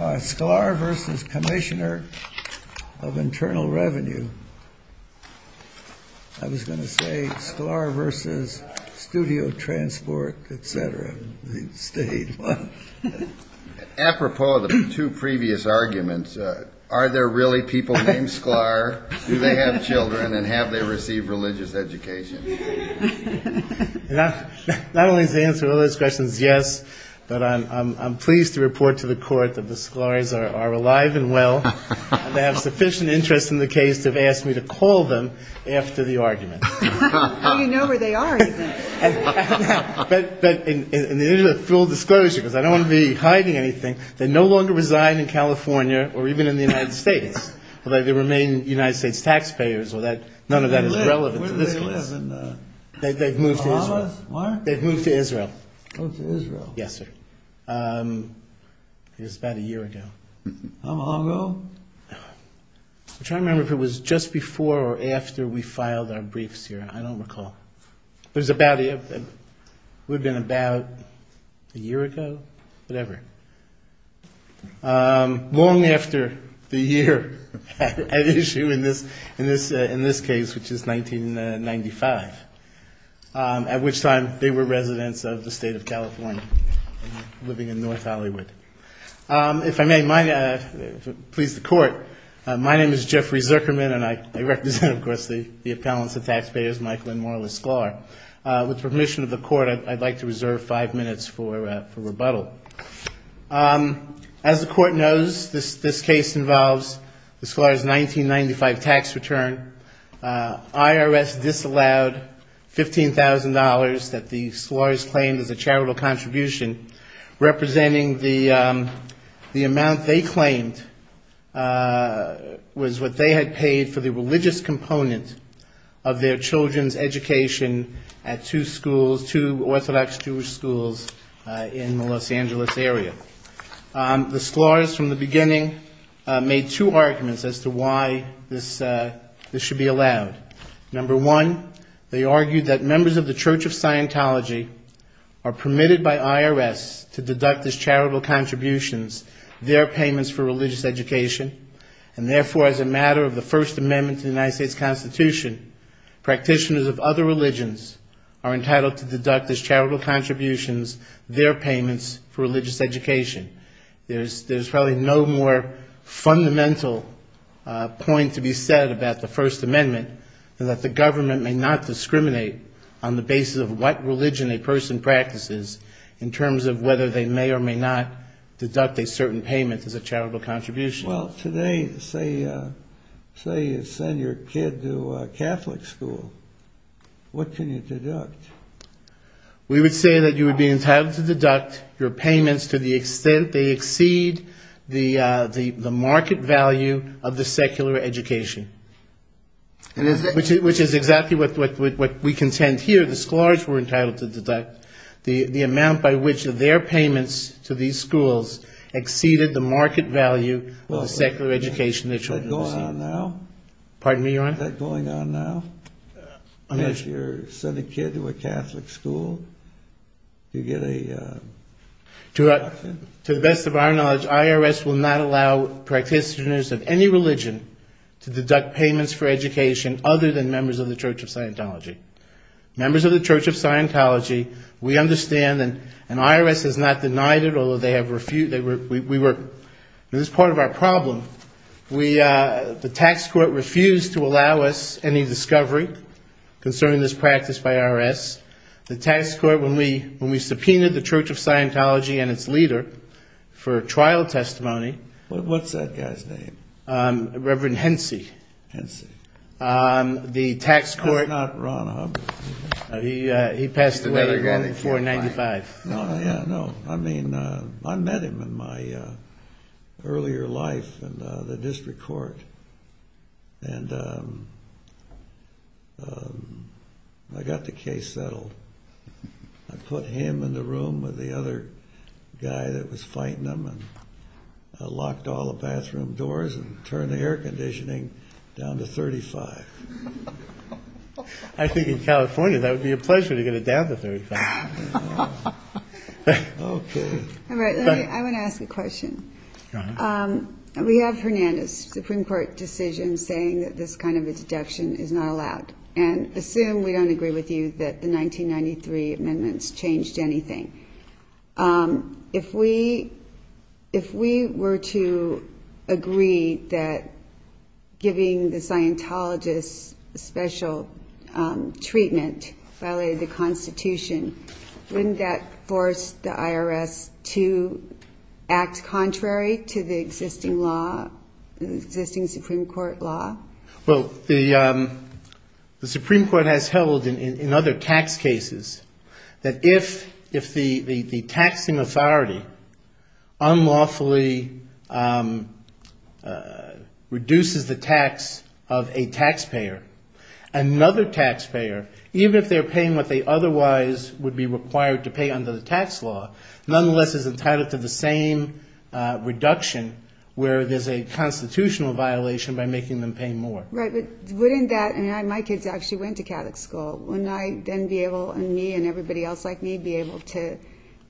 Sklar v. Commissioner of Internal Revenue. I was going to say Sklar v. Studio Transport, etc. Apropos of the two previous arguments, are there really people named Sklar? Do they have children, and have they received religious education? Not only is the answer to those questions yes, but I'm pleased to report to the Court that the Sklars are alive and well, and they have sufficient interest in the case to have asked me to call them after the argument. Well, you know where they are, even. But in the interest of full disclosure, because I don't want to be hiding anything, they no longer reside in California or even in the United States, although they remain United States taxpayers. None of that is relevant to this case. Where do they live? In the Bahamas? They've moved to Israel. Moved to Israel? Yes, sir. It was about a year ago. How long ago? I'm trying to remember if it was just before or after we filed our briefs here. I don't recall. It would have been about a year ago, whatever. Long after the year at issue in this case, which is 1995, at which time they were residents of the state of California living in North Hollywood. If I may please the Court, my name is Jeffrey Zuckerman, and I represent, of course, the appellants, the taxpayers, Michael and Marla Sklar. With permission of the Court, I'd like to reserve five minutes for rebuttal. As the Court knows, this case involves the Sklar's 1995 tax return. IRS disallowed $15,000 that the Sklar's claimed as a charitable contribution, representing the amount they claimed was what they had paid for the religious component of their children's education at two schools, two The Sklar's from the beginning made two arguments as to why this should be allowed. Number one, they argued that members of the Church of Scientology are permitted by IRS to deduct as charitable contributions their payments for religious education, and therefore, as a matter of the First Amendment to the United States Constitution, practitioners of other religions are entitled to deduct as charitable contributions their payments for religious education. There's probably no more fundamental point to be said about the First Amendment than that the government may not discriminate on the basis of what religion a person practices in terms of whether they may or may not deduct a certain payment as a charitable contribution. Well, today, say you send your kid to a Catholic school, what can you deduct? We would say that you would be entitled to deduct your payments to the extent they exceed the market value of the secular education, which is exactly what we contend here. The Sklar's were entitled to deduct the amount by which their payments to these schools exceeded the market value of the secular education their children received. Is that going on now? Pardon me, Your Honor? Is that going on now? I'm not sure. If you send a kid to a Catholic school, you get a deduction? To the best of our knowledge, IRS will not allow practitioners of any religion to deduct payments for education other than members of the Church of Scientology. Members of the Church of Scientology, we understand, and IRS has not denied it, although they have refused. This is part of our problem. The tax court refused to allow us any discovery concerning this practice by IRS. The tax court, when we subpoenaed the Church of Scientology and its leader for trial testimony. What's that guy's name? Reverend Hency. Hency. That's not Ron Hubbard. He passed away in 495. I met him in my earlier life in the district court. I got the case settled. I put him in the room with the other guy that was fighting him and I locked all the bathroom doors and turned the air conditioning down to 35. I think in California that would be a pleasure to get it down to 35. I want to ask a question. We have Hernandez's Supreme Court decision saying that this kind of a deduction is not allowed. And assume we don't agree with you that the 1993 amendments changed anything. If we were to agree that giving the Scientologists special treatment violated the Constitution, wouldn't that force the IRS to act contrary to the existing Supreme Court law? Well, the Supreme Court has held in other tax cases that if the taxing authority unlawfully reduces the tax of a taxpayer, another taxpayer, even if they're paying what they otherwise would be required to pay under the tax law, nonetheless is entitled to the same reduction where there's a constitutional violation by making them pay more. Right, but wouldn't that, and my kids actually went to Catholic school, wouldn't I then be able, and me and everybody else like me, be able to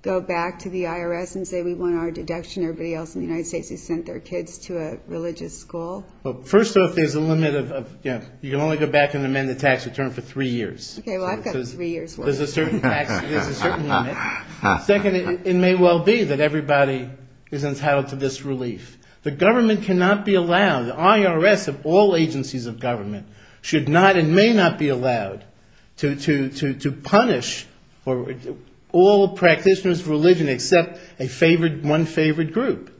go back to the IRS and say we want our deduction. Everybody else in the United States has sent their kids to a religious school. Well, first off, there's a limit of, you can only go back and amend the tax return for three years. Okay, well I've got three years' worth. There's a certain limit. Second, it may well be that everybody is entitled to this relief. The government cannot be allowed, the IRS of all agencies of government should not and may not be allowed to punish all practitioners of religion except one favored group.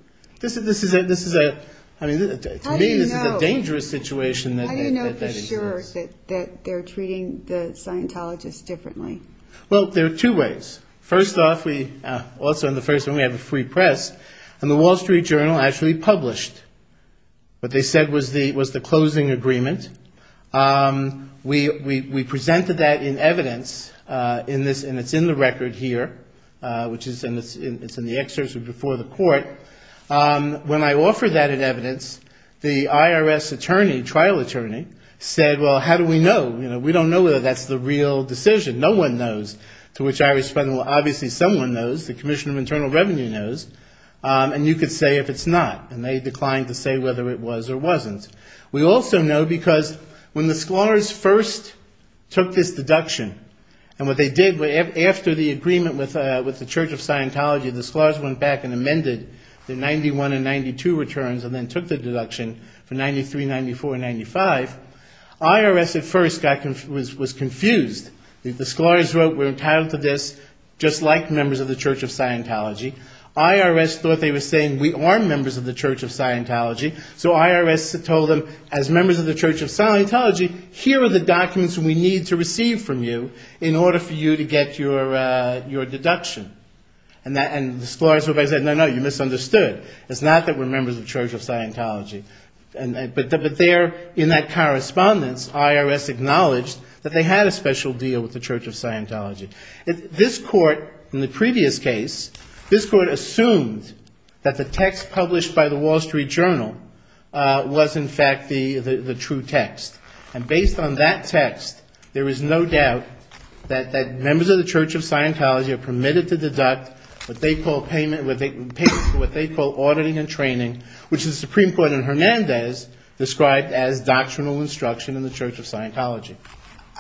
This is a, to me, this is a dangerous situation that exists. How do you know for sure that they're treating the Scientologists differently? Well, there are two ways. First off, we, also in the first one we have a free press, and the Wall Street Journal actually published what they said was the closing agreement. We presented that in evidence in this, and it's in the record here, which is in the excerpts before the court. When I offered that in evidence, the IRS attorney, trial attorney, said, well, how do we know? You know, we don't know whether that's the real decision. No one knows, to which I responded, well, obviously someone knows. The Commission of Internal Revenue knows, and you could say if it's not, and they declined to say whether it was or wasn't. We also know because when the scholars first took this deduction, and what they did after the agreement with the Church of Scientology, the scholars went back and amended the 91 and 92 returns and then took the deduction for 93, 94, and 95. IRS at first was confused. The scholars wrote we're entitled to this just like members of the Church of Scientology. IRS thought they were saying we are members of the Church of Scientology, so IRS told them as members of the Church of Scientology, here are the documents we need to receive from you in order for you to get your deduction. And the scholars said, no, no, you misunderstood. It's not that we're members of the Church of Scientology. But there in that correspondence, IRS acknowledged that they had a special deal with the Church of Scientology. This court, in the previous case, this court assumed that the text published by the Wall Street Journal was, in fact, the true text. And based on that text, there is no doubt that members of the Church of Scientology are permitted to deduct what they call auditing and training, which the Supreme Court in Hernandez described as doctrinal instruction in the Church of Scientology.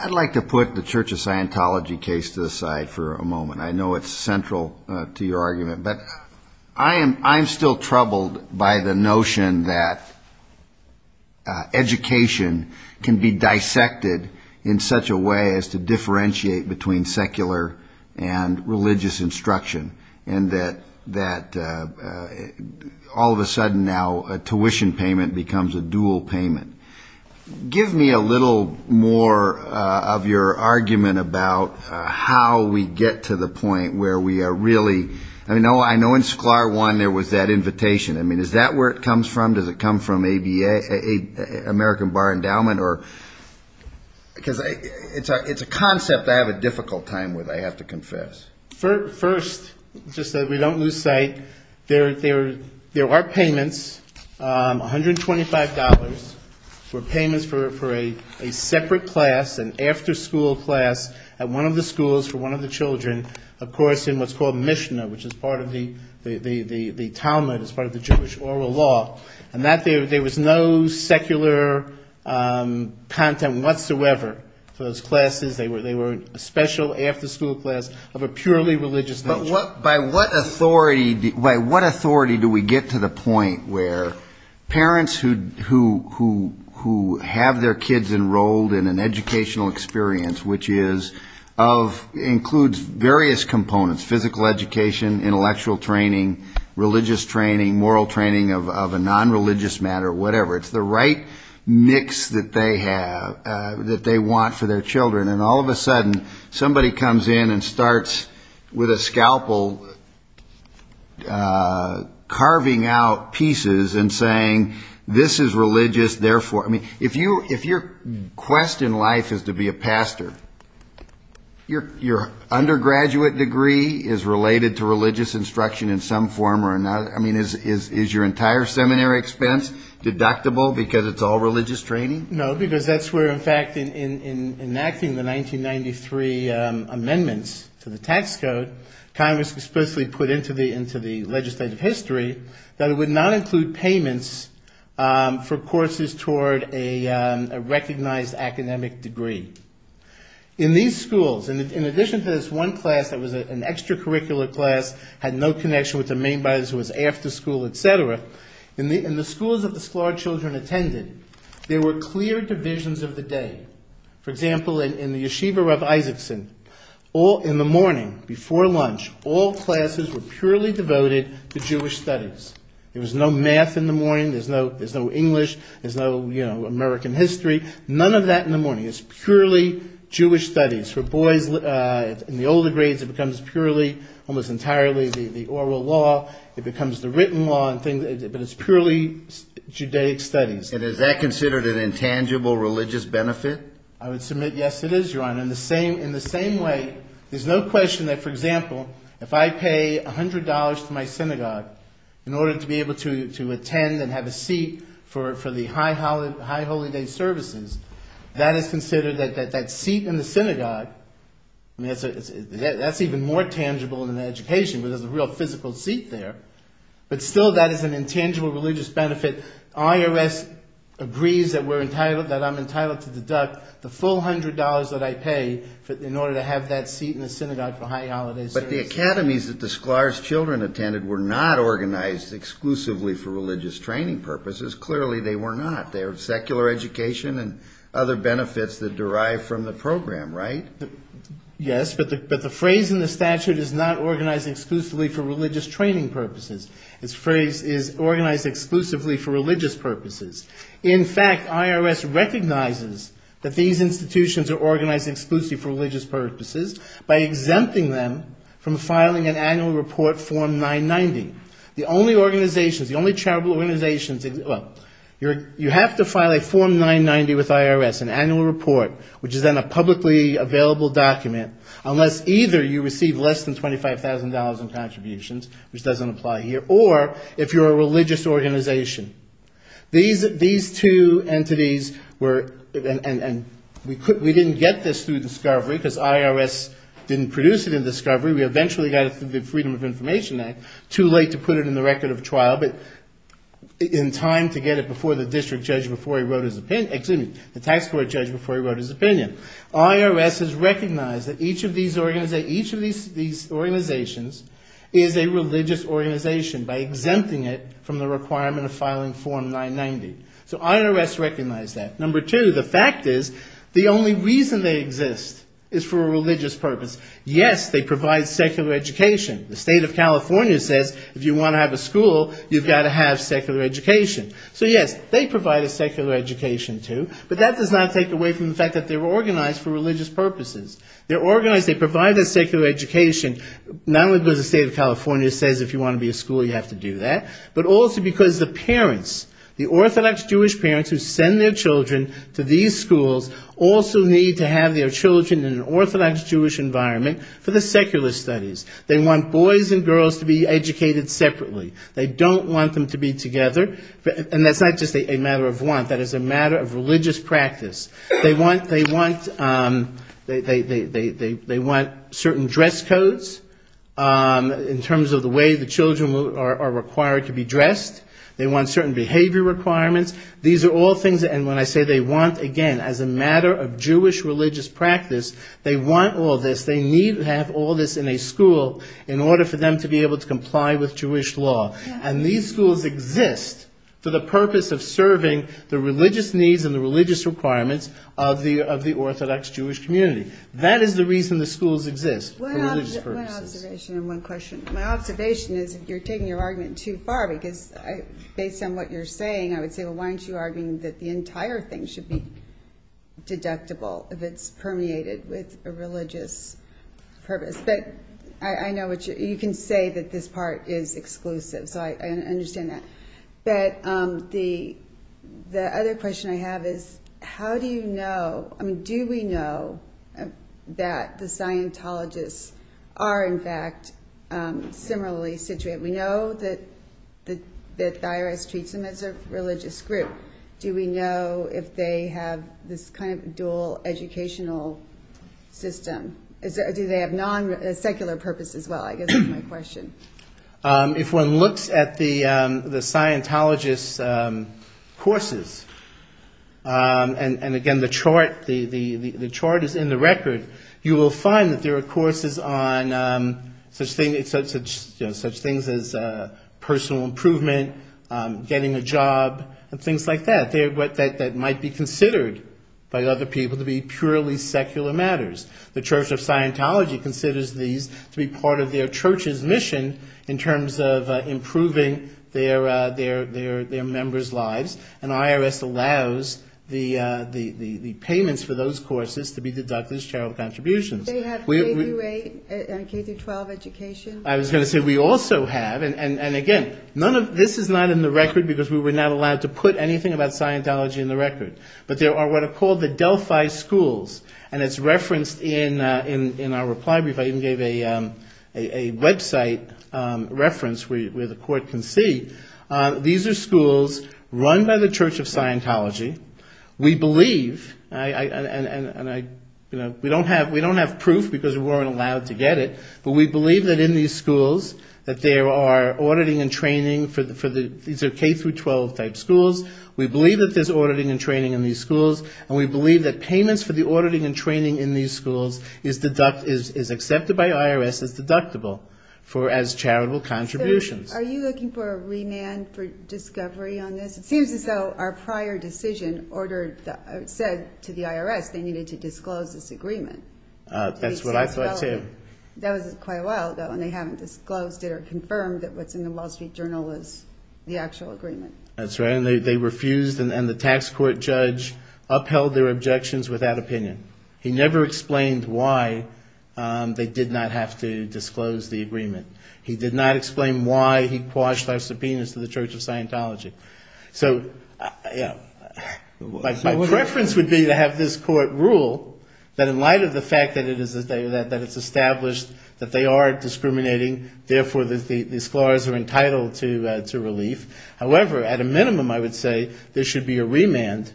I'd like to put the Church of Scientology case to the side for a moment. I know it's central to your argument. But I am still troubled by the notion that education can be dissected in such a way as to differentiate between secular and religious instruction, and that all of a sudden now a tuition payment becomes a dual payment. Give me a little more of your argument about how we get to the point where we are really, I mean, I know in SCLAR I there was that invitation. I mean, is that where it comes from? Does it come from American Bar Endowment? Because it's a concept I have a difficult time with, I have to confess. First, just so that we don't lose sight, there are payments, $125, for payments for a separate class, an after-school class, at one of the schools for one of the children, of course, in what's called Mishnah, which is part of the Talmud, it's part of the Jewish oral law, and that there was no secular content whatsoever for those classes. They were a special after-school class of a purely religious nature. But by what authority do we get to the point where parents who have their kids enrolled in an educational experience, which includes various components, physical education, intellectual training, religious training, moral training of a non-religious matter, whatever, it's the right mix that they have, that they want for their children, and all of a sudden somebody comes in and starts with a scalpel carving out pieces and saying, this is religious, therefore, I mean, if your quest in life is to be a pastor, your undergraduate degree is related to religious instruction in some form or another, I mean, is your entire seminary expense deductible because it's all religious training? No, because that's where, in fact, in enacting the 1993 amendments to the tax code, Congress explicitly put into the legislative history that it would not include payments for courses toward a recognized academic degree. In these schools, in addition to this one class that was an extracurricular class, had no connection with their main buyers who was after school, et cetera, in the schools that the Sklar children attended, there were clear divisions of the day. For example, in the yeshiva of Isaacson, in the morning, before lunch, all classes were purely devoted to Jewish studies. There was no math in the morning. There's no English. There's no American history. None of that in the morning. It's purely Jewish studies. For boys in the older grades, it becomes purely, almost entirely the oral law. It becomes the written law, but it's purely Judaic studies. And is that considered an intangible religious benefit? I would submit yes, it is, Your Honor. In the same way, there's no question that, for example, if I pay $100 to my synagogue in order to be able to attend and have a seat for the high holy day services, that is considered, that seat in the synagogue, that's even more tangible in an education because there's a real physical seat there, but still that is an intangible religious benefit. IRS agrees that I'm entitled to deduct the full $100 that I pay in order to have that seat in the synagogue for high holy day services. But the academies that the Sklar's children attended were not organized exclusively for religious training purposes. Because clearly they were not. They were secular education and other benefits that derive from the program, right? Yes, but the phrase in the statute is not organized exclusively for religious training purposes. Its phrase is organized exclusively for religious purposes. In fact, IRS recognizes that these institutions are organized exclusively for religious purposes by exempting them from filing an annual report form 990. The only organizations, the only charitable organizations, well, you have to file a form 990 with IRS, an annual report, which is then a publicly available document, unless either you receive less than $25,000 in contributions, which doesn't apply here, or if you're a religious organization. These two entities were, and we didn't get this through discovery because IRS didn't produce it in discovery. We eventually got it through the Freedom of Information Act. Too late to put it in the record of trial, but in time to get it before the district judge before he wrote his opinion, excuse me, the tax court judge before he wrote his opinion. IRS has recognized that each of these organizations is a religious organization by exempting it from the requirement of filing form 990. So IRS recognized that. Number two, the fact is the only reason they exist is for a religious purpose. Yes, they provide secular education. The state of California says if you want to have a school, you've got to have secular education. So yes, they provide a secular education too, but that does not take away from the fact that they're organized for religious purposes. They're organized, they provide a secular education, not only because the state of California says if you want to be a school, you have to do that, but also because the parents, the Orthodox Jewish parents who send their children to these schools also need to have their children in an Orthodox Jewish environment for the secular studies. They want boys and girls to be educated separately. They don't want them to be together. And that's not just a matter of want, that is a matter of religious practice. They want certain dress codes in terms of the way the children are required to be dressed. They want certain behavior requirements. And when I say they want, again, as a matter of Jewish religious practice, they want all this. They need to have all this in a school in order for them to be able to comply with Jewish law. And these schools exist for the purpose of serving the religious needs and the religious requirements of the Orthodox Jewish community. That is the reason the schools exist, for religious purposes. One observation and one question. My observation is if you're taking your argument too far, because based on what you're saying, I would say, well, why aren't you arguing that the entire thing should be deductible if it's permeated with a religious purpose? But I know you can say that this part is exclusive, so I understand that. But the other question I have is how do you know, I mean, do we know that the Scientologists are, in fact, similarly situated? Do we know that the IRS treats them as a religious group? Do we know if they have this kind of dual educational system? Do they have non-secular purposes? Well, I guess that's my question. If one looks at the Scientologists' courses, and again, the chart is in the record, you will find that there are courses on such things as personal improvement, getting a job, and things like that, that might be considered by other people to be purely secular matters. The Church of Scientology considers these to be part of their church's mission in terms of improving their members' lives, and IRS allows the payments for those courses to be deducted as charitable contributions. They have K-12 education. I was going to say we also have, and again, this is not in the record because we were not allowed to put anything about Scientology in the record. But there are what are called the Delphi schools, and it's referenced in our reply brief. I even gave a website reference where the court can see. These are schools run by the Church of Scientology. We believe, and we don't have proof because we weren't allowed to get it, but we believe that in these schools that there are auditing and training for the K-12 type schools. We believe that there's auditing and training in these schools, and we believe that payments for the auditing and training in these schools is accepted by IRS as deductible for as charitable contributions. Are you looking for a remand for discovery on this? It seems as though our prior decision said to the IRS they needed to disclose this agreement. That's what I thought too. That was quite a while ago, and they haven't disclosed it or confirmed that what's in the Wall Street Journal is the actual agreement. That's right, and they refused, and the tax court judge upheld their objections without opinion. He never explained why they did not have to disclose the agreement. He did not explain why he quashed our subpoenas to the Church of Scientology. So my preference would be to have this court rule that in light of the fact that it's established that they are discriminating, therefore the scholars are entitled to relief. However, at a minimum I would say there should be a remand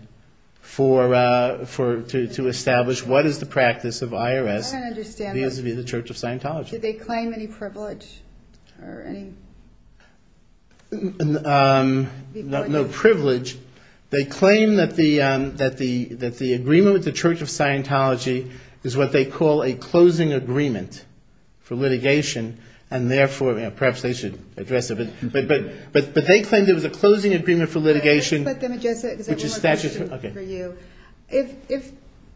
to establish what is the practice of IRS vis-à-vis the Church of Scientology. Do they claim any privilege? No privilege. They claim that the agreement with the Church of Scientology is what they call a closing agreement for litigation, and therefore perhaps they should address it. But they claim there was a closing agreement for litigation which is statutory.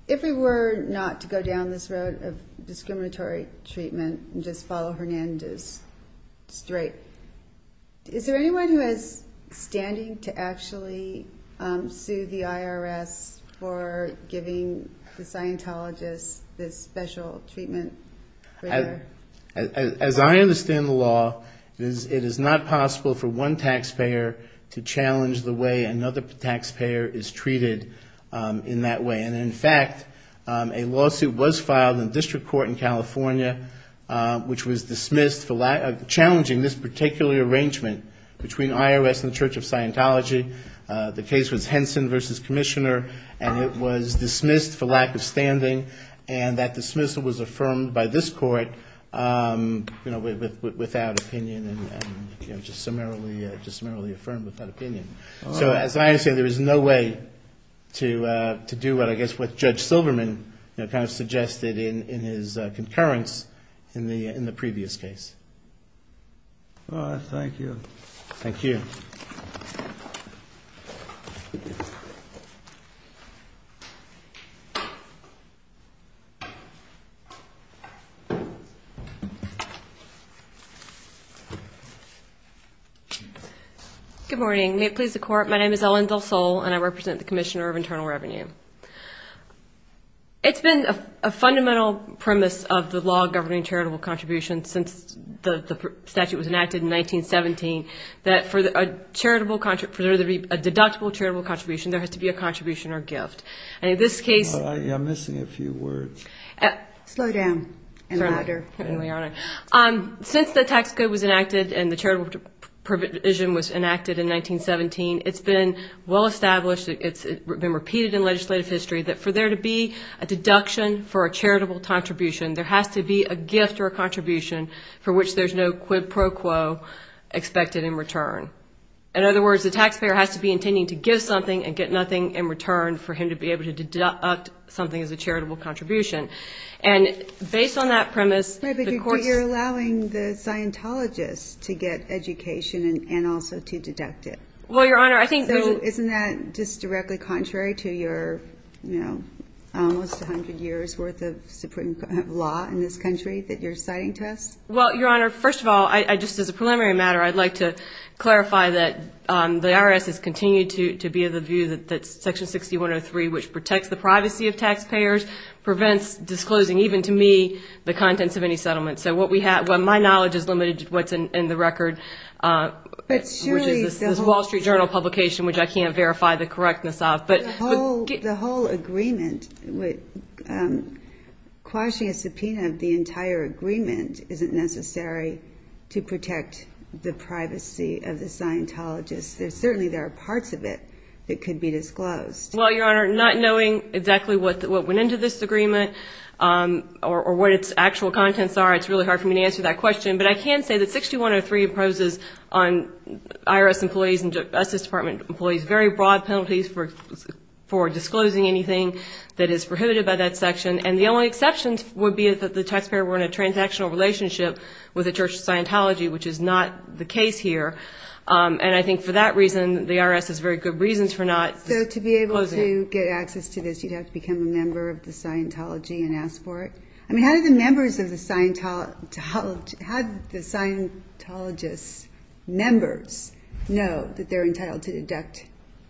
If we were not to go down this road of discriminatory treatment and just follow Hernandez straight, is there anyone who is standing to actually sue the IRS for giving the Scientologists this special treatment? As I understand the law, it is not possible for one taxpayer to challenge the way another taxpayer is treated in that way. And in fact, a lawsuit was filed in district court in California which was dismissed for challenging this particular arrangement between IRS and the Church of Scientology. The case was Henson v. Commissioner, and it was dismissed for lack of standing, and that dismissal was affirmed by this court without opinion and just summarily affirmed without opinion. So as I understand, there is no way to do what I guess what Judge Silverman kind of suggested in his concurrence in the previous case. All right. Thank you. Thank you. Thank you. Good morning. May it please the Court, my name is Ellen Del Sol and I represent the Commissioner of Internal Revenue. It's been a fundamental premise of the law governing charitable contributions since the statute was enacted in 1917 that for there to be a deductible charitable contribution, there has to be a contribution or gift. And in this case – I'm missing a few words. Slow down and louder. Since the tax code was enacted and the charitable provision was enacted in 1917, it's been well established, it's been repeated in legislative history that for there to be a deduction for a charitable contribution, there has to be a gift or a contribution for which there's no quid pro quo expected in return. In other words, the taxpayer has to be intending to give something and get nothing in return for him to be able to deduct something as a charitable contribution. And based on that premise – But you're allowing the Scientologists to get education and also to deduct it. Well, Your Honor, I think – So isn't that just directly contrary to your, you know, almost 100 years' worth of supreme law in this country that you're citing to us? Well, Your Honor, first of all, just as a preliminary matter, I'd like to clarify that the IRS has continued to be of the view that Section 6103, which protects the privacy of taxpayers, prevents disclosing, even to me, the contents of any settlement. So what we have – well, my knowledge is limited to what's in the record, which is this Wall Street Journal publication, which I can't verify the correctness of. But the whole agreement – quashing a subpoena of the entire agreement isn't necessary to protect the privacy of the Scientologists. Certainly there are parts of it that could be disclosed. Well, Your Honor, not knowing exactly what went into this agreement or what its actual contents are, it's really hard for me to answer that question. But I can say that 6103 imposes on IRS employees and Justice Department employees very broad penalties for disclosing anything that is prohibited by that section. And the only exceptions would be that the taxpayer were in a transactional relationship with the Church of Scientology, which is not the case here. And I think for that reason, the IRS has very good reasons for not closing it. So to be able to get access to this, you'd have to become a member of the Scientology and ask for it? I mean, how do the members of the Scientology – how do the Scientologists' members know that they're entitled to deduct?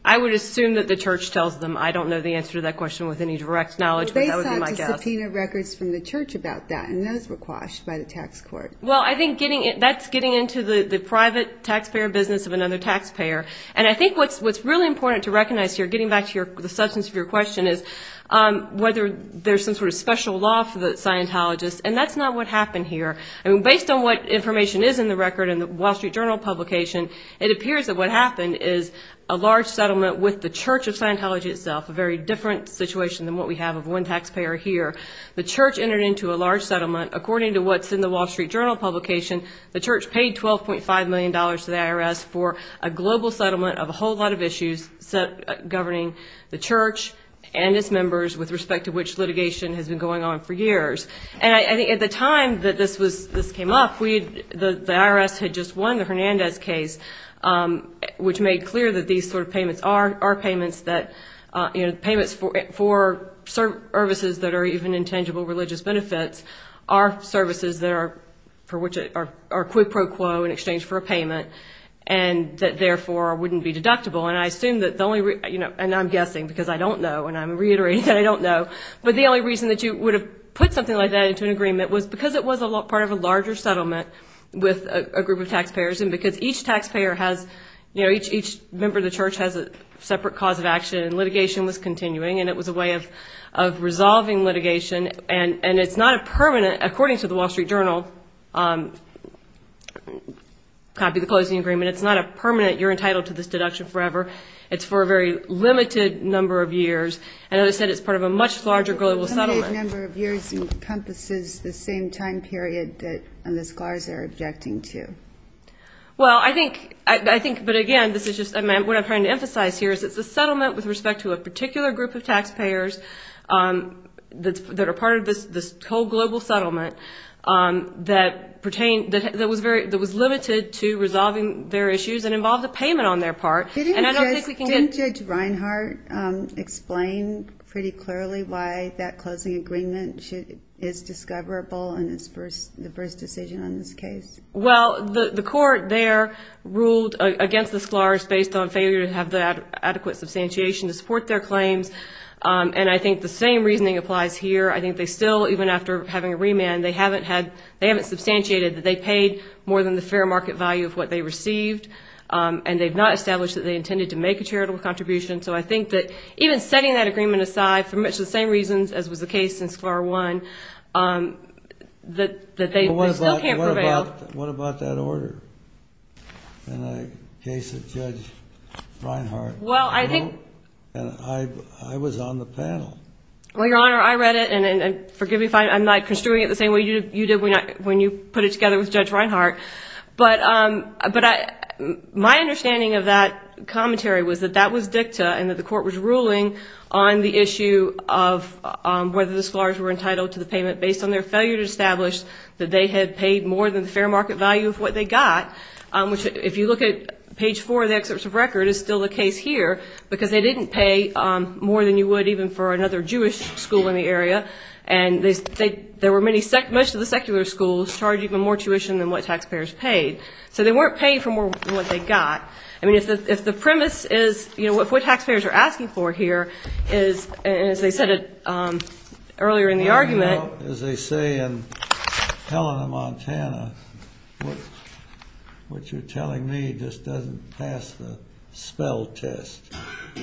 I would assume that the Church tells them. I don't know the answer to that question with any direct knowledge, but that would be my guess. Well, they sought to subpoena records from the Church about that, and those were quashed by the tax court. Well, I think that's getting into the private taxpayer business of another taxpayer. And I think what's really important to recognize here, getting back to the substance of your question, is whether there's some sort of special law for the Scientologists, and that's not what happened here. I mean, based on what information is in the record in the Wall Street Journal publication, it appears that what happened is a large settlement with the Church of Scientology itself, a very different situation than what we have of one taxpayer here. The Church entered into a large settlement. According to what's in the Wall Street Journal publication, the Church paid $12.5 million to the IRS for a global settlement of a whole lot of issues governing the Church and its members with respect to which litigation has been going on for years. And I think at the time that this came up, the IRS had just won the Hernandez case, which made clear that these sort of payments are payments that, you know, payments for services that are even intangible religious benefits, are services that are for which are quid pro quo in exchange for a payment and that therefore wouldn't be deductible. And I assume that the only reason, you know, and I'm guessing because I don't know, and I'm reiterating that I don't know, but the only reason that you would have put something like that into an agreement was because it was a part of a larger settlement with a group of taxpayers and because each taxpayer has, you know, each member of the Church has a separate cause of action and litigation was continuing and it was a way of resolving litigation. And it's not a permanent, according to the Wall Street Journal, copy the closing agreement, it's not a permanent you're entitled to this deduction forever, it's for a very limited number of years. And as I said, it's part of a much larger global settlement. A limited number of years encompasses the same time period that the scholars are objecting to. Well, I think, but again, this is just what I'm trying to emphasize here, is it's a settlement with respect to a particular group of taxpayers that are part of this whole global settlement that pertain, that was limited to resolving their issues and involved a payment on their part. Didn't Judge Reinhart explain pretty clearly why that closing agreement is discoverable in the first decision on this case? Well, the court there ruled against the scholars based on failure to have adequate substantiation to support their claims. And I think the same reasoning applies here, I think they still, even after having a remand, they haven't substantiated that they paid more than the fair market value of what they received and they've not established that they intended to make a charitable contribution. So I think that even setting that agreement aside for much the same reasons as was the case in Sclar 1, that they still can't prevail. What about that order in the case of Judge Reinhart? I was on the panel. Well, Your Honor, I read it, and forgive me if I'm not construing it the same way you did when you put it together with Judge Reinhart. But my understanding of that commentary was that that was dicta and that the court was ruling on the issue of whether the scholars were entitled to the payment based on their failure to establish that they had paid more than the fair market value of what they got, which if you look at page 4 of the excerpts of record is still the case here, because they didn't pay more than you would even for another Jewish school in the area. And there were many, most of the secular schools charged even more tuition than what taxpayers paid. So they weren't paying for more than what they got. I mean, if the premise is, you know, if what taxpayers are asking for here is, as they said earlier in the argument. Well, you know, as they say in Helena, Montana, what you're telling me just doesn't pass the spell test.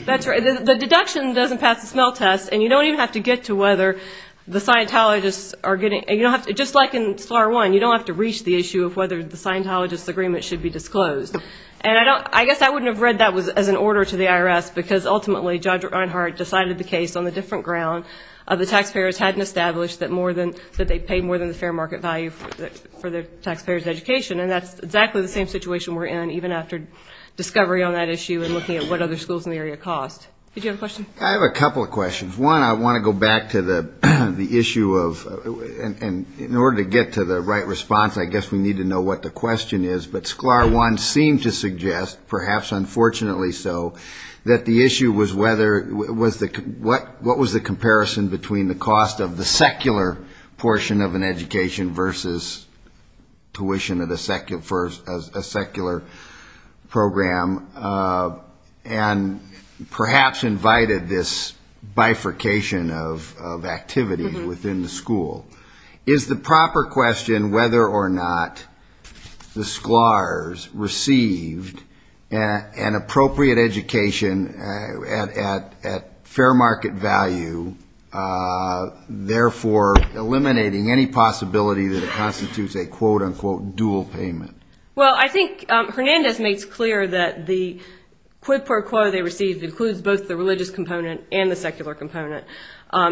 That's right. The deduction doesn't pass the spell test, and you don't even have to get to whether the Scientologists are getting and you don't have to, just like in FAR 1, you don't have to reach the issue of whether the Scientologists' agreement should be disclosed. And I guess I wouldn't have read that as an order to the IRS, because ultimately Judge Reinhart decided the case on the different ground of the taxpayers hadn't established that more than, that they paid more than the fair market value for the taxpayers' education. And that's exactly the same situation we're in, even after discovery on that issue and looking at what other schools in the area cost. Did you have a question? I have a couple of questions. One, I want to go back to the issue of, and in order to get to the right response, I guess we need to know what the question is, but SCLAR 1 seemed to suggest, perhaps unfortunately so, that the issue was whether, what was the comparison between the cost of the secular portion of an education versus tuition for a secular program, and perhaps invited this bifurcation of activity within the school. Is the proper question whether or not the SCLARs received an appropriate education at a school where the tuition was low, at fair market value, therefore eliminating any possibility that it constitutes a quote-unquote dual payment? Well, I think Hernandez makes clear that the quid pro quo they received includes both the religious component and the secular component.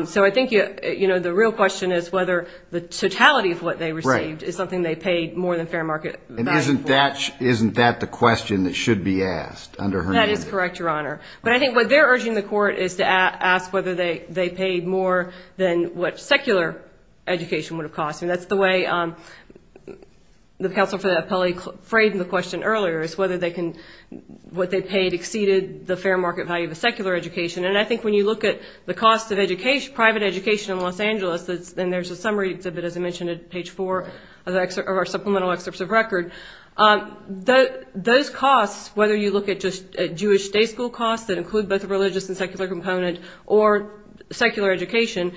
So I think the real question is whether the totality of what they received is something they paid more than fair market value for. And isn't that the question that should be asked under Hernandez? That is correct, Your Honor. But I think what they're urging the court is to ask whether they paid more than what secular education would have cost. And that's the way the counsel for the appellee framed the question earlier, is whether they can, what they paid exceeded the fair market value of a secular education. And I think when you look at the cost of private education in Los Angeles, and there's a summary of it, as I mentioned, at page four of our supplemental excerpts of record, those costs, whether you look at just Jewish day school costs that include both the religious and secular component or secular education,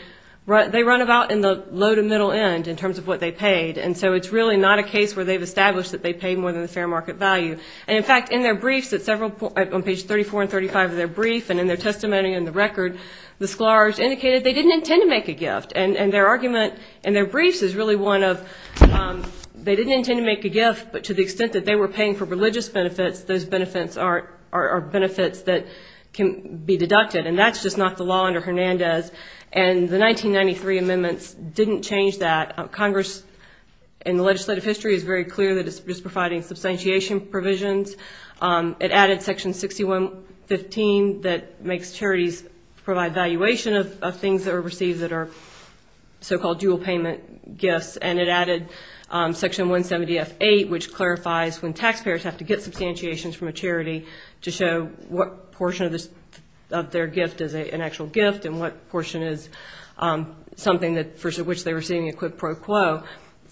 they run about in the low to middle end in terms of what they paid. And so it's really not a case where they've established that they pay more than the fair market value. And in fact, in their briefs at several, on page 34 and 35 of their brief and in their testimony in the record, the scholars indicated they didn't intend to make a gift. And their argument in their briefs is really one of they didn't intend to make a gift, but to the extent that they were paying for religious benefits, those benefits are benefits that can be deducted. And that's just not the law under Hernandez. And the 1993 amendments didn't change that. Congress, in the legislative history, is very clear that it's just providing substantiation provisions. It added section 6115 that makes charities provide valuation of things that are received that are so-called dual payment gifts. And it added section 170F8, which clarifies when taxpayers have to get substantiations from a charity to show what portion of their gift is an actual gift and what portion is something for which they were seeing a quid pro quo.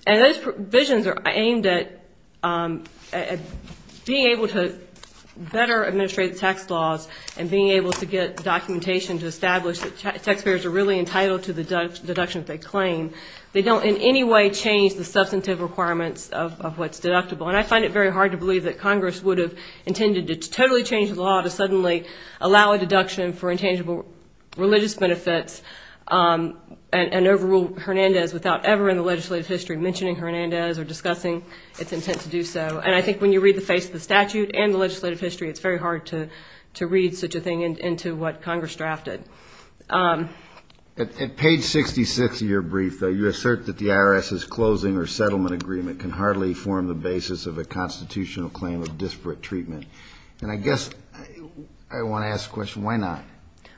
And those provisions are aimed at being able to better administrate the tax laws and being able to get documentation to establish that taxpayers are really entitled to the deductions they claim. They don't in any way change the substantive requirements of what's deductible. And I find it very hard to believe that Congress would have intended to totally change the law to suddenly allow a deduction for intangible religious benefits and overrule Hernandez without ever in the legislative history mentioning Hernandez or discussing its intent to do so. And I think when you read the face of the statute and the legislative history, it's very hard to read such a thing into what Congress drafted. At page 66 of your brief, though, you assert that the IRS's closing or settlement agreement can hardly form the basis of the constitutional claim of disparate treatment. And I guess I want to ask the question, why not?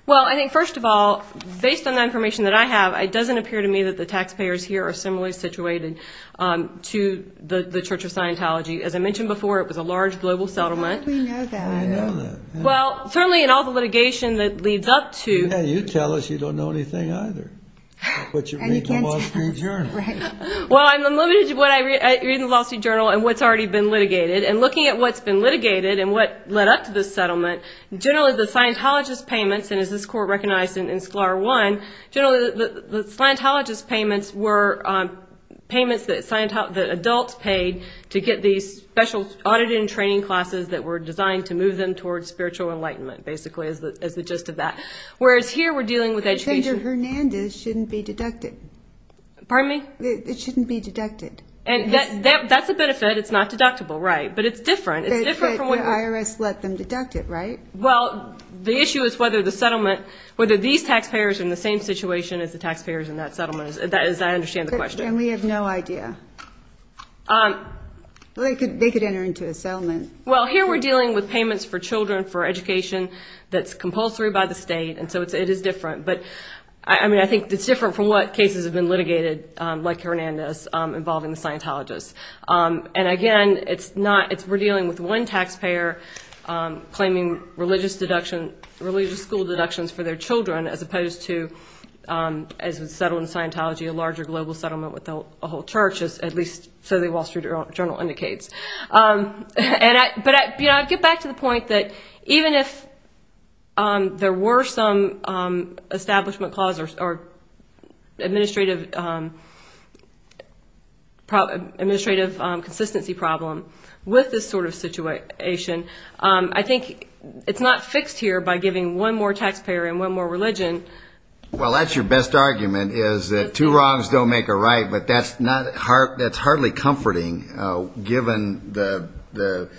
Well, I think, first of all, based on the information that I have, it doesn't appear to me that the taxpayers here are similarly situated to the Church of Scientology. As I mentioned before, it was a large global settlement. How do we know that? Well, certainly in all the litigation that leads up to... Yeah, you tell us. You don't know anything either. But you read the Wall Street Journal. Well, I'm limited to what I read in the Wall Street Journal and what's already been litigated. And looking at what's been litigated and what led up to this settlement, generally the Scientologist payments, and as this Court recognized in Sclar 1, generally the Scientologist payments were payments that adults paid to get these special audit and training classes that were designed to move them towards spiritual enlightenment, basically, is the gist of that. Whereas here we're dealing with education... But Fender-Hernandez shouldn't be deducted. Pardon me? It shouldn't be deducted. And that's a benefit. It's not deductible, right. But it's different. But the IRS let them deduct it, right? Well, the issue is whether these taxpayers are in the same situation as the taxpayers in that settlement, as I understand the question. And we have no idea. They could enter into a settlement. Well, here we're dealing with payments for children for education that's compulsory by the state. And so it is different. But, I mean, I think it's different from what cases have been litigated, like Hernandez, involving the Scientologist. And, again, it's not... We're dealing with one taxpayer claiming religious school deductions for their children, as opposed to, as with settlement Scientology, a larger global settlement with a whole church, at least so the Wall Street Journal indicates. But I'd get back to the point that even if there were some establishment clauses or administrative consistency problem with this sort of situation, I think it's not fixed here by giving one more taxpayer and one more religion. Well, that's your best argument, is that two wrongs don't make a right. But that's hardly comforting, given the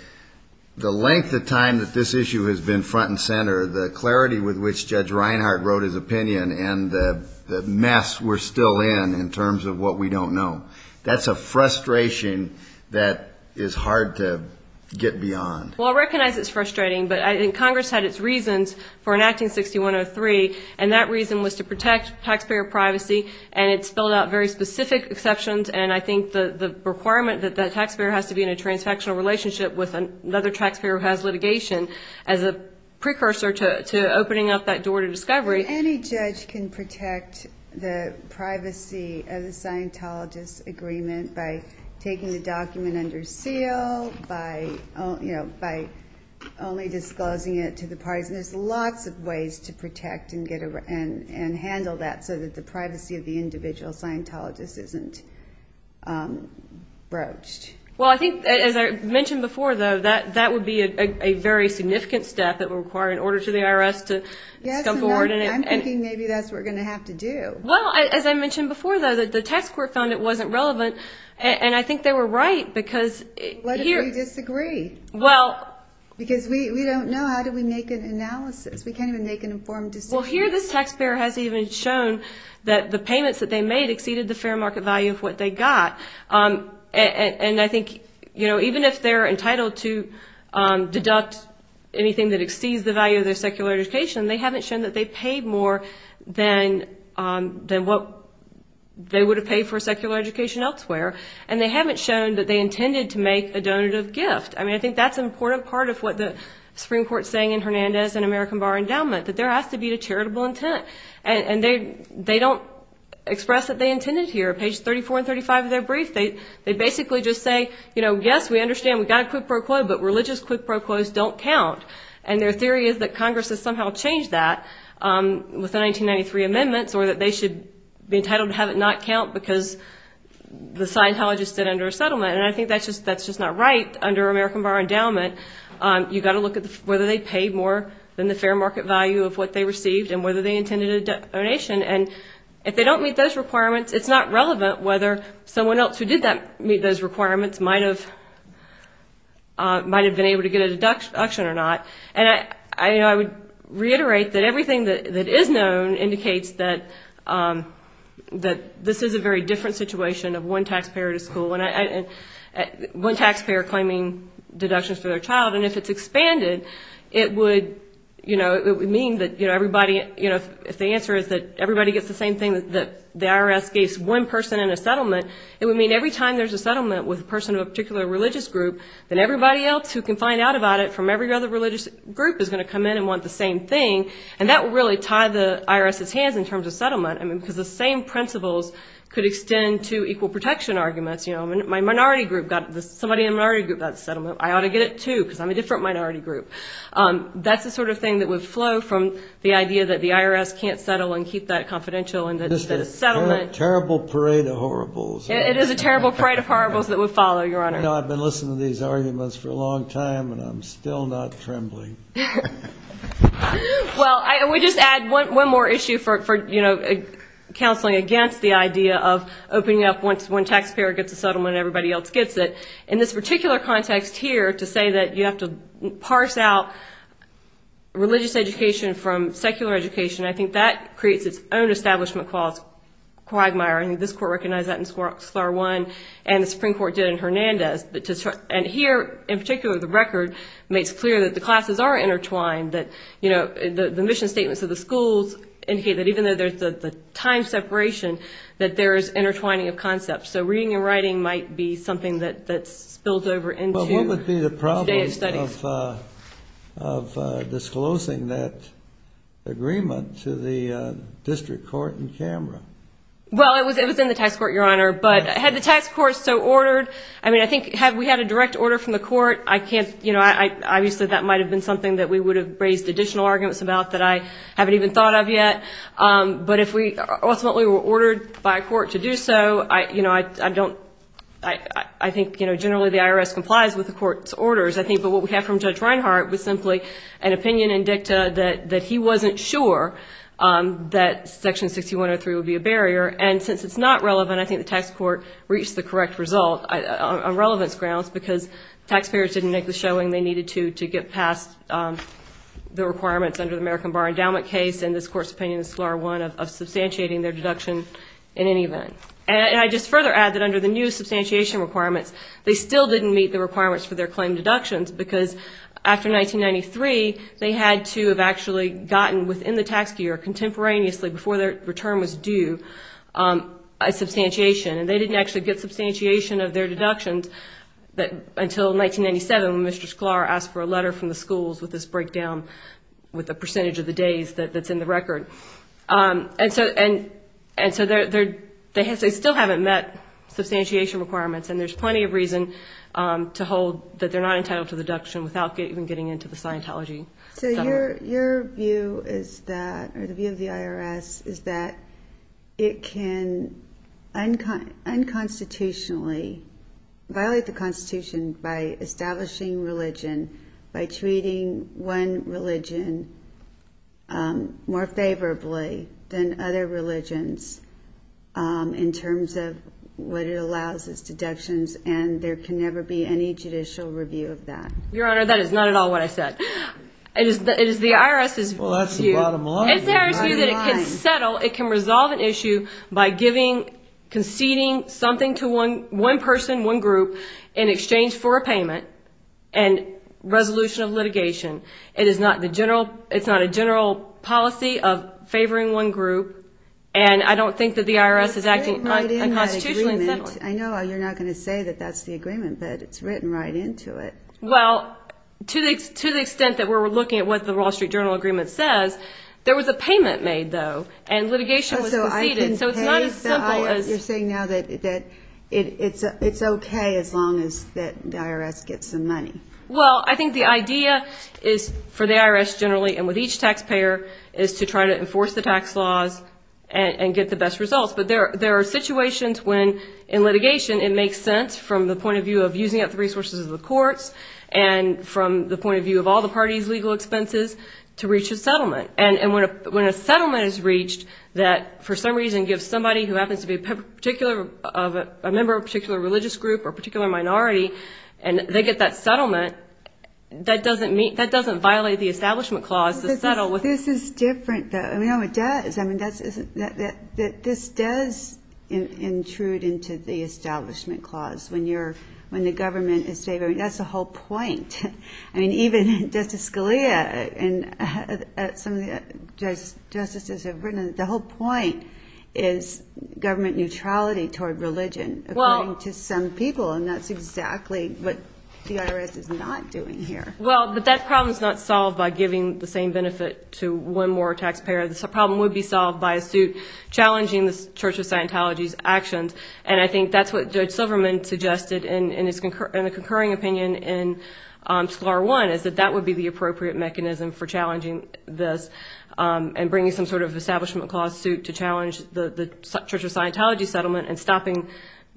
length of time that this issue has been front and center, the clarity with which Judge Reinhart wrote his opinion, and the mess we're still in, in terms of what we don't know. That's a frustration that is hard to get beyond. Well, I recognize it's frustrating, but I think Congress had its reasons for enacting 6103, and that reason was to protect taxpayer privacy, and it spelled out very specific exceptions. And I think the requirement that that taxpayer has to be in a transfectional relationship with another taxpayer who has litigation as a precursor to opening up that door to discovery. Any judge can protect the privacy of the Scientologist's agreement by taking the document under seal, by only disclosing it to the parties. And there's lots of ways to protect and handle that so that the privacy of the individual Scientologist isn't broached. Well, I think, as I mentioned before, though, that would be a very significant step that would require an order to the IRS to come forward. I'm thinking maybe that's what we're going to have to do. Well, as I mentioned before, though, the tax court found it wasn't relevant, and I think they were right, because... What if we disagree? Because we don't know. How do we make an analysis? We can't even make an informed decision. Well, here this taxpayer has even shown that the payments that they made exceeded the fair market value of what they got. And I think even if they're entitled to deduct anything that exceeds the value of their secular education, they haven't shown that they paid more than what they would have paid for secular education elsewhere. And they haven't shown that they intended to make a donative gift. I mean, I think that's an important part of what the Supreme Court's saying in Hernandez and American Bar Endowment, that there has to be a charitable intent. And they don't express that they intended here. Page 34 and 35 of their brief, they basically just say, you know, yes, we understand we got a quid pro quo, but religious quid pro quos don't count. And their theory is that Congress has somehow changed that with the 1993 amendments, or that they should be entitled to have it not count, because the Scientologists did under a settlement. And I think that's just not right under American Bar Endowment. You've got to look at whether they paid more than the fair market value of what they received and whether they intended a donation. And if they don't meet those requirements, it's not relevant whether someone else who did meet those requirements might have been able to get a deduction or not. And I would reiterate that everything that is known indicates that this is a very different situation of one taxpayer at a school. One taxpayer claiming deductions for their child. And if it's expanded, it would, you know, it would mean that, you know, everybody, you know, if the answer is that everybody gets the same thing that the IRS gives one person in a settlement, it would mean every time there's a settlement with a person of a particular religious group, then everybody else who can find out about it from every other religious group is going to come in and want the same thing. And that would really tie the IRS's hands in terms of settlement. I mean, because the same principles could extend to equal protection arguments. You know, my minority group got the, somebody in the minority group got the settlement. I ought to get it, too, because I'm a different minority group. That's the sort of thing that would flow from the idea that the IRS can't settle and keep that confidential and that a settlement. It is a terrible parade of horribles that would follow, Your Honor. You know, I've been listening to these arguments for a long time, and I'm still not trembling. Well, I would just add one more issue for, you know, counseling against the idea of opening up once one taxpayer gets a settlement and everybody else gets it. In this particular context here, to say that you have to parse out religious education from secular education, I think that creates its own establishment clause. Quagmire, I think this court recognized that in SCLAR 1, and the Supreme Court did in Hernandez. And here, in particular, the record makes clear that the classes are intertwined, that, you know, the mission statements of the schools indicate that even though there's the time separation, that there is intertwining of concepts. So reading and writing might be something that spills over into today's studies. Well, what would be the problem of disclosing that agreement to the district court in Canberra? Well, it was in the tax court, Your Honor. But had the tax court so ordered, I mean, I think had we had a direct order from the court, I can't, you know, obviously that might have been something that we would have raised additional arguments about that I haven't even thought of yet. But if we ultimately were ordered by a court to do so, I, you know, I don't, I think, you know, generally the IRS complies with the court's orders, I think. But what we have from Judge Reinhart was simply an opinion in dicta that he wasn't sure that Section 6103 would be abated. And since it's not relevant, I think the tax court reached the correct result on relevance grounds, because taxpayers didn't make the showing they needed to to get past the requirements under the American Bar Endowment case. And this court's opinion is Scalar I of substantiating their deduction in any event. And I'd just further add that under the new substantiation requirements, they still didn't meet the requirements for their claim deductions, because after 1993, they had to have actually gotten within the tax year contemporaneously before their return was due. A substantiation, and they didn't actually get substantiation of their deductions until 1997 when Mr. Scalar asked for a letter from the schools with this breakdown with the percentage of the days that's in the record. And so they still haven't met substantiation requirements, and there's plenty of reason to hold that they're not entitled to deduction without even getting into the Scientology. So your view is that, or the view of the IRS, is that it can unconstitutionally violate the Constitution by establishing religion, by treating one religion more favorably than other religions in terms of what it allows as deductions, and there can never be any judicial review of that. Your Honor, that is not at all what I said. It is the IRS's view that it can settle, it can resolve an issue by giving, conceding something to one person, one group, in exchange for a payment and resolution of litigation. It is not the general, it's not a general policy of favoring one group, and I don't think that the IRS is acting unconstitutionally. I know you're not going to say that that's the agreement, but it's written right into it. Well, to the extent that we're looking at what the Wall Street Journal agreement says, there was a payment made, though, and litigation was conceded, so it's not as simple as... You're saying now that it's okay as long as the IRS gets some money. Well, I think the idea is, for the IRS generally and with each taxpayer, is to try to enforce the tax laws and get the best results. But there are situations when, in litigation, it makes sense, from the point of view of using up the resources of the courts, and from the point of view of all the parties' legal expenses, to reach a settlement. And when a settlement is reached that, for some reason, gives somebody who happens to be a member of a particular religious group or particular minority, and they get that settlement, that doesn't violate the establishment clause to settle. This is different, though. I mean, no, it does. I mean, this does intrude into the establishment clause when the government is favoring. That's the whole point. I mean, even Justice Scalia and some of the justices have written that the whole point is government neutrality toward religion, according to some people, and that's exactly what the IRS is not doing here. Well, but that problem is not solved by giving the same benefit to one more taxpayer. The problem would be solved by a suit challenging the Church of Scientology's actions. And I think that's what Judge Silverman suggested in a concurring opinion in Scalar I, is that that would be the appropriate mechanism for challenging this, and bringing some sort of establishment clause suit to challenge the Church of Scientology settlement, and stopping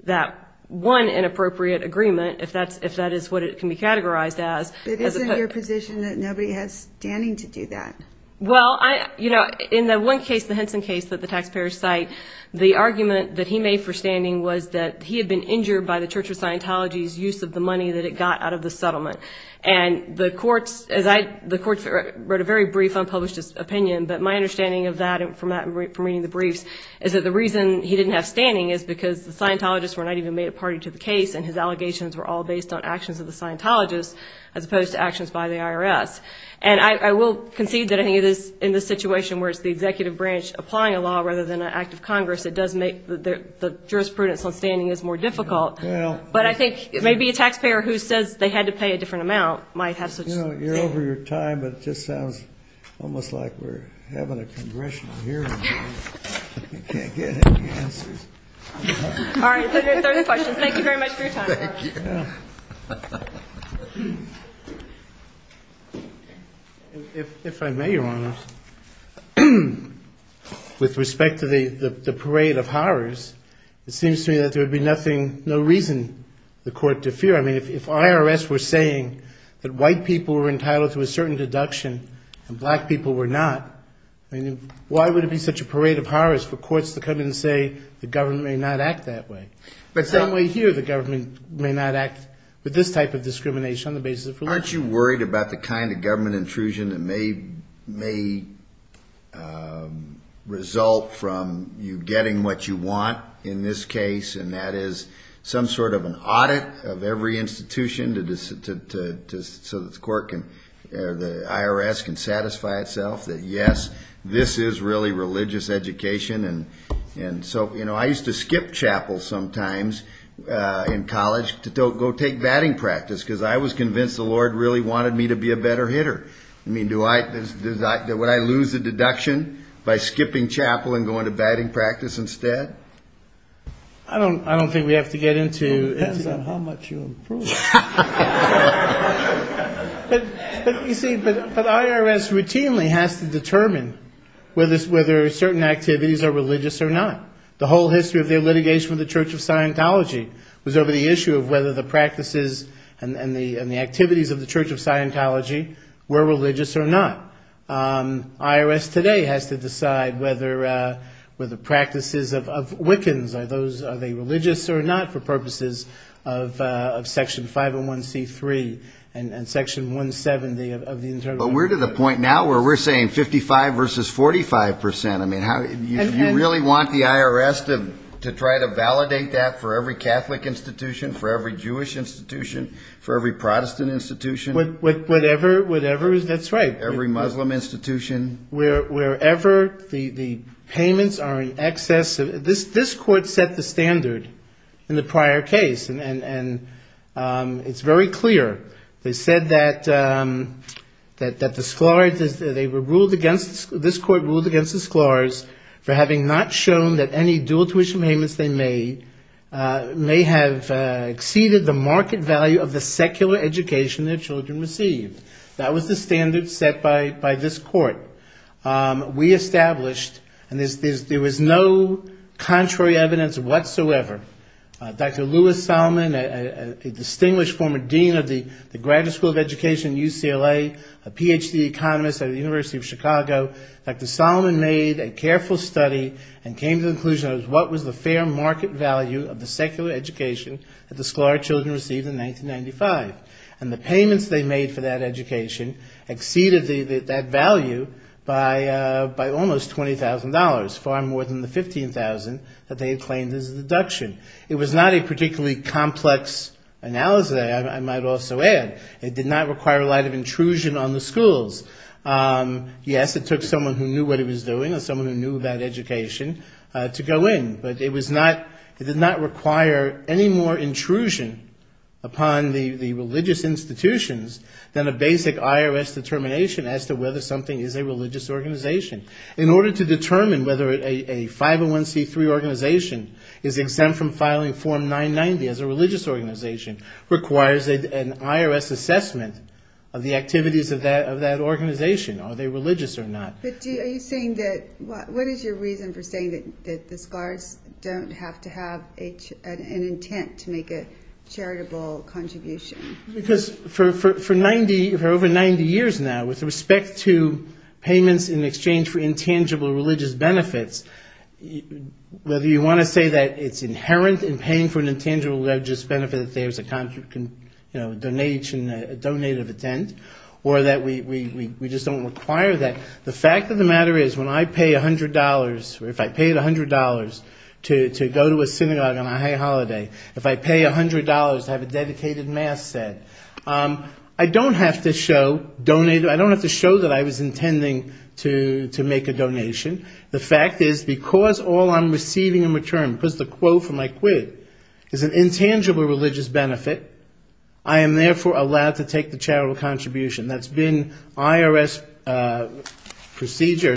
that one inappropriate agreement, if that is what it can be categorized as. But why is it your position that nobody has standing to do that? Well, you know, in the one case, the Henson case that the taxpayers cite, the argument that he made for standing was that he had been injured by the Church of Scientology's use of the money that it got out of the settlement. And the courts wrote a very brief unpublished opinion, but my understanding of that, from reading the briefs, is that the reason he didn't have standing is because the Scientologists were not even made a party to the case, and his allegations were all based on actions of the Scientologists, as opposed to actions of the taxpayers. And I will concede that I think it is, in this situation where it's the executive branch applying a law rather than an act of Congress, it does make the jurisprudence on standing is more difficult. But I think maybe a taxpayer who says they had to pay a different amount might have such... You know, you're over your time, but it just sounds almost like we're having a congressional hearing. You can't get any answers. All right, 30 questions. Thank you very much for your time. If I may, Your Honor, with respect to the parade of horrors, it seems to me that there would be nothing, no reason the court to fear. I mean, if IRS were saying that white people were entitled to a certain deduction and black people were not, I mean, why would it be such a parade of horrors for courts to come in and say the government is not entitled to a certain deduction? I mean, the government may not act that way. But same way here, the government may not act with this type of discrimination on the basis of religion. Aren't you worried about the kind of government intrusion that may result from you getting what you want in this case, and that is some sort of an audit of every institution so that the IRS can satisfy itself that, yes, this is really religious education? And so, you know, I used to skip chapel sometimes in college to go take batting practice, because I was convinced the Lord really wanted me to be a better hitter. I mean, would I lose the deduction by skipping chapel and going to batting practice instead? I don't think we have to get into it. It depends on how much you improve. It depends on whether you're religious or not. The whole history of their litigation with the Church of Scientology was over the issue of whether the practices and the activities of the Church of Scientology were religious or not. IRS today has to decide whether the practices of Wiccans, are they religious or not, for purposes of Section 501C3 and Section 170 of the Internal Revenue Code. But we're to the point now where we're saying 55 versus 45 percent. I mean, you really want the IRS to try to validate that for every Catholic institution, for every Jewish institution, for every Protestant institution? Whatever is right. Every Muslim institution. Wherever the payments are in excess. This Court set the standard in the prior case, and it's very clear. They said that the sclars, they were ruled against, this Court ruled against the sclars for having not shown that any dual tuition payments they made may have exceeded the market value of the secular education their children received. That was the standard set by this Court. We established, and there was no contrary evidence whatsoever. Dr. Lewis Solomon, a distinguished former dean of the Graduate School of Education at UCLA, a Ph.D. economist at the University of Chicago, Dr. Solomon made a careful study and came to the conclusion of what was the fair market value of the secular education that the sclar children received in 1995. And the payments they made for that education exceeded that value by almost $20,000, far more than the $15,000 that they had claimed as a deduction. It was not a particularly complex analysis, I might also add. It did not require a lot of intrusion on the schools. Yes, it took someone who knew what it was doing, or someone who knew about education, to go in. But it did not require any more intrusion upon the religious institutions than a basic IRS determination as to whether something is a religious organization. In order to determine whether a 501c3 organization is exempt from filing Form 990 as a religious organization requires an IRS assessment of the activities of that organization, are they religious or not. But are you saying that, what is your reason for saying that the sclars don't have to have an intent to make a charitable contribution? Because for over 90 years now, with respect to payments in exchange for intangible religious benefits, whether you want to say that it's inherent in paying for an intangible religious benefit, that there's a donation, a donate of intent, or that we just don't require that, the fact is that it's not. The fact of the matter is, when I pay $100, or if I paid $100 to go to a synagogue on a holiday, if I pay $100 to have a dedicated mass said, I don't have to show that I was intending to make a donation. The fact is, because all I'm receiving in return, because the quote for my quid is an intangible religious benefit, I am therefore allowed to take the charitable contribution. That's been IRS procedure.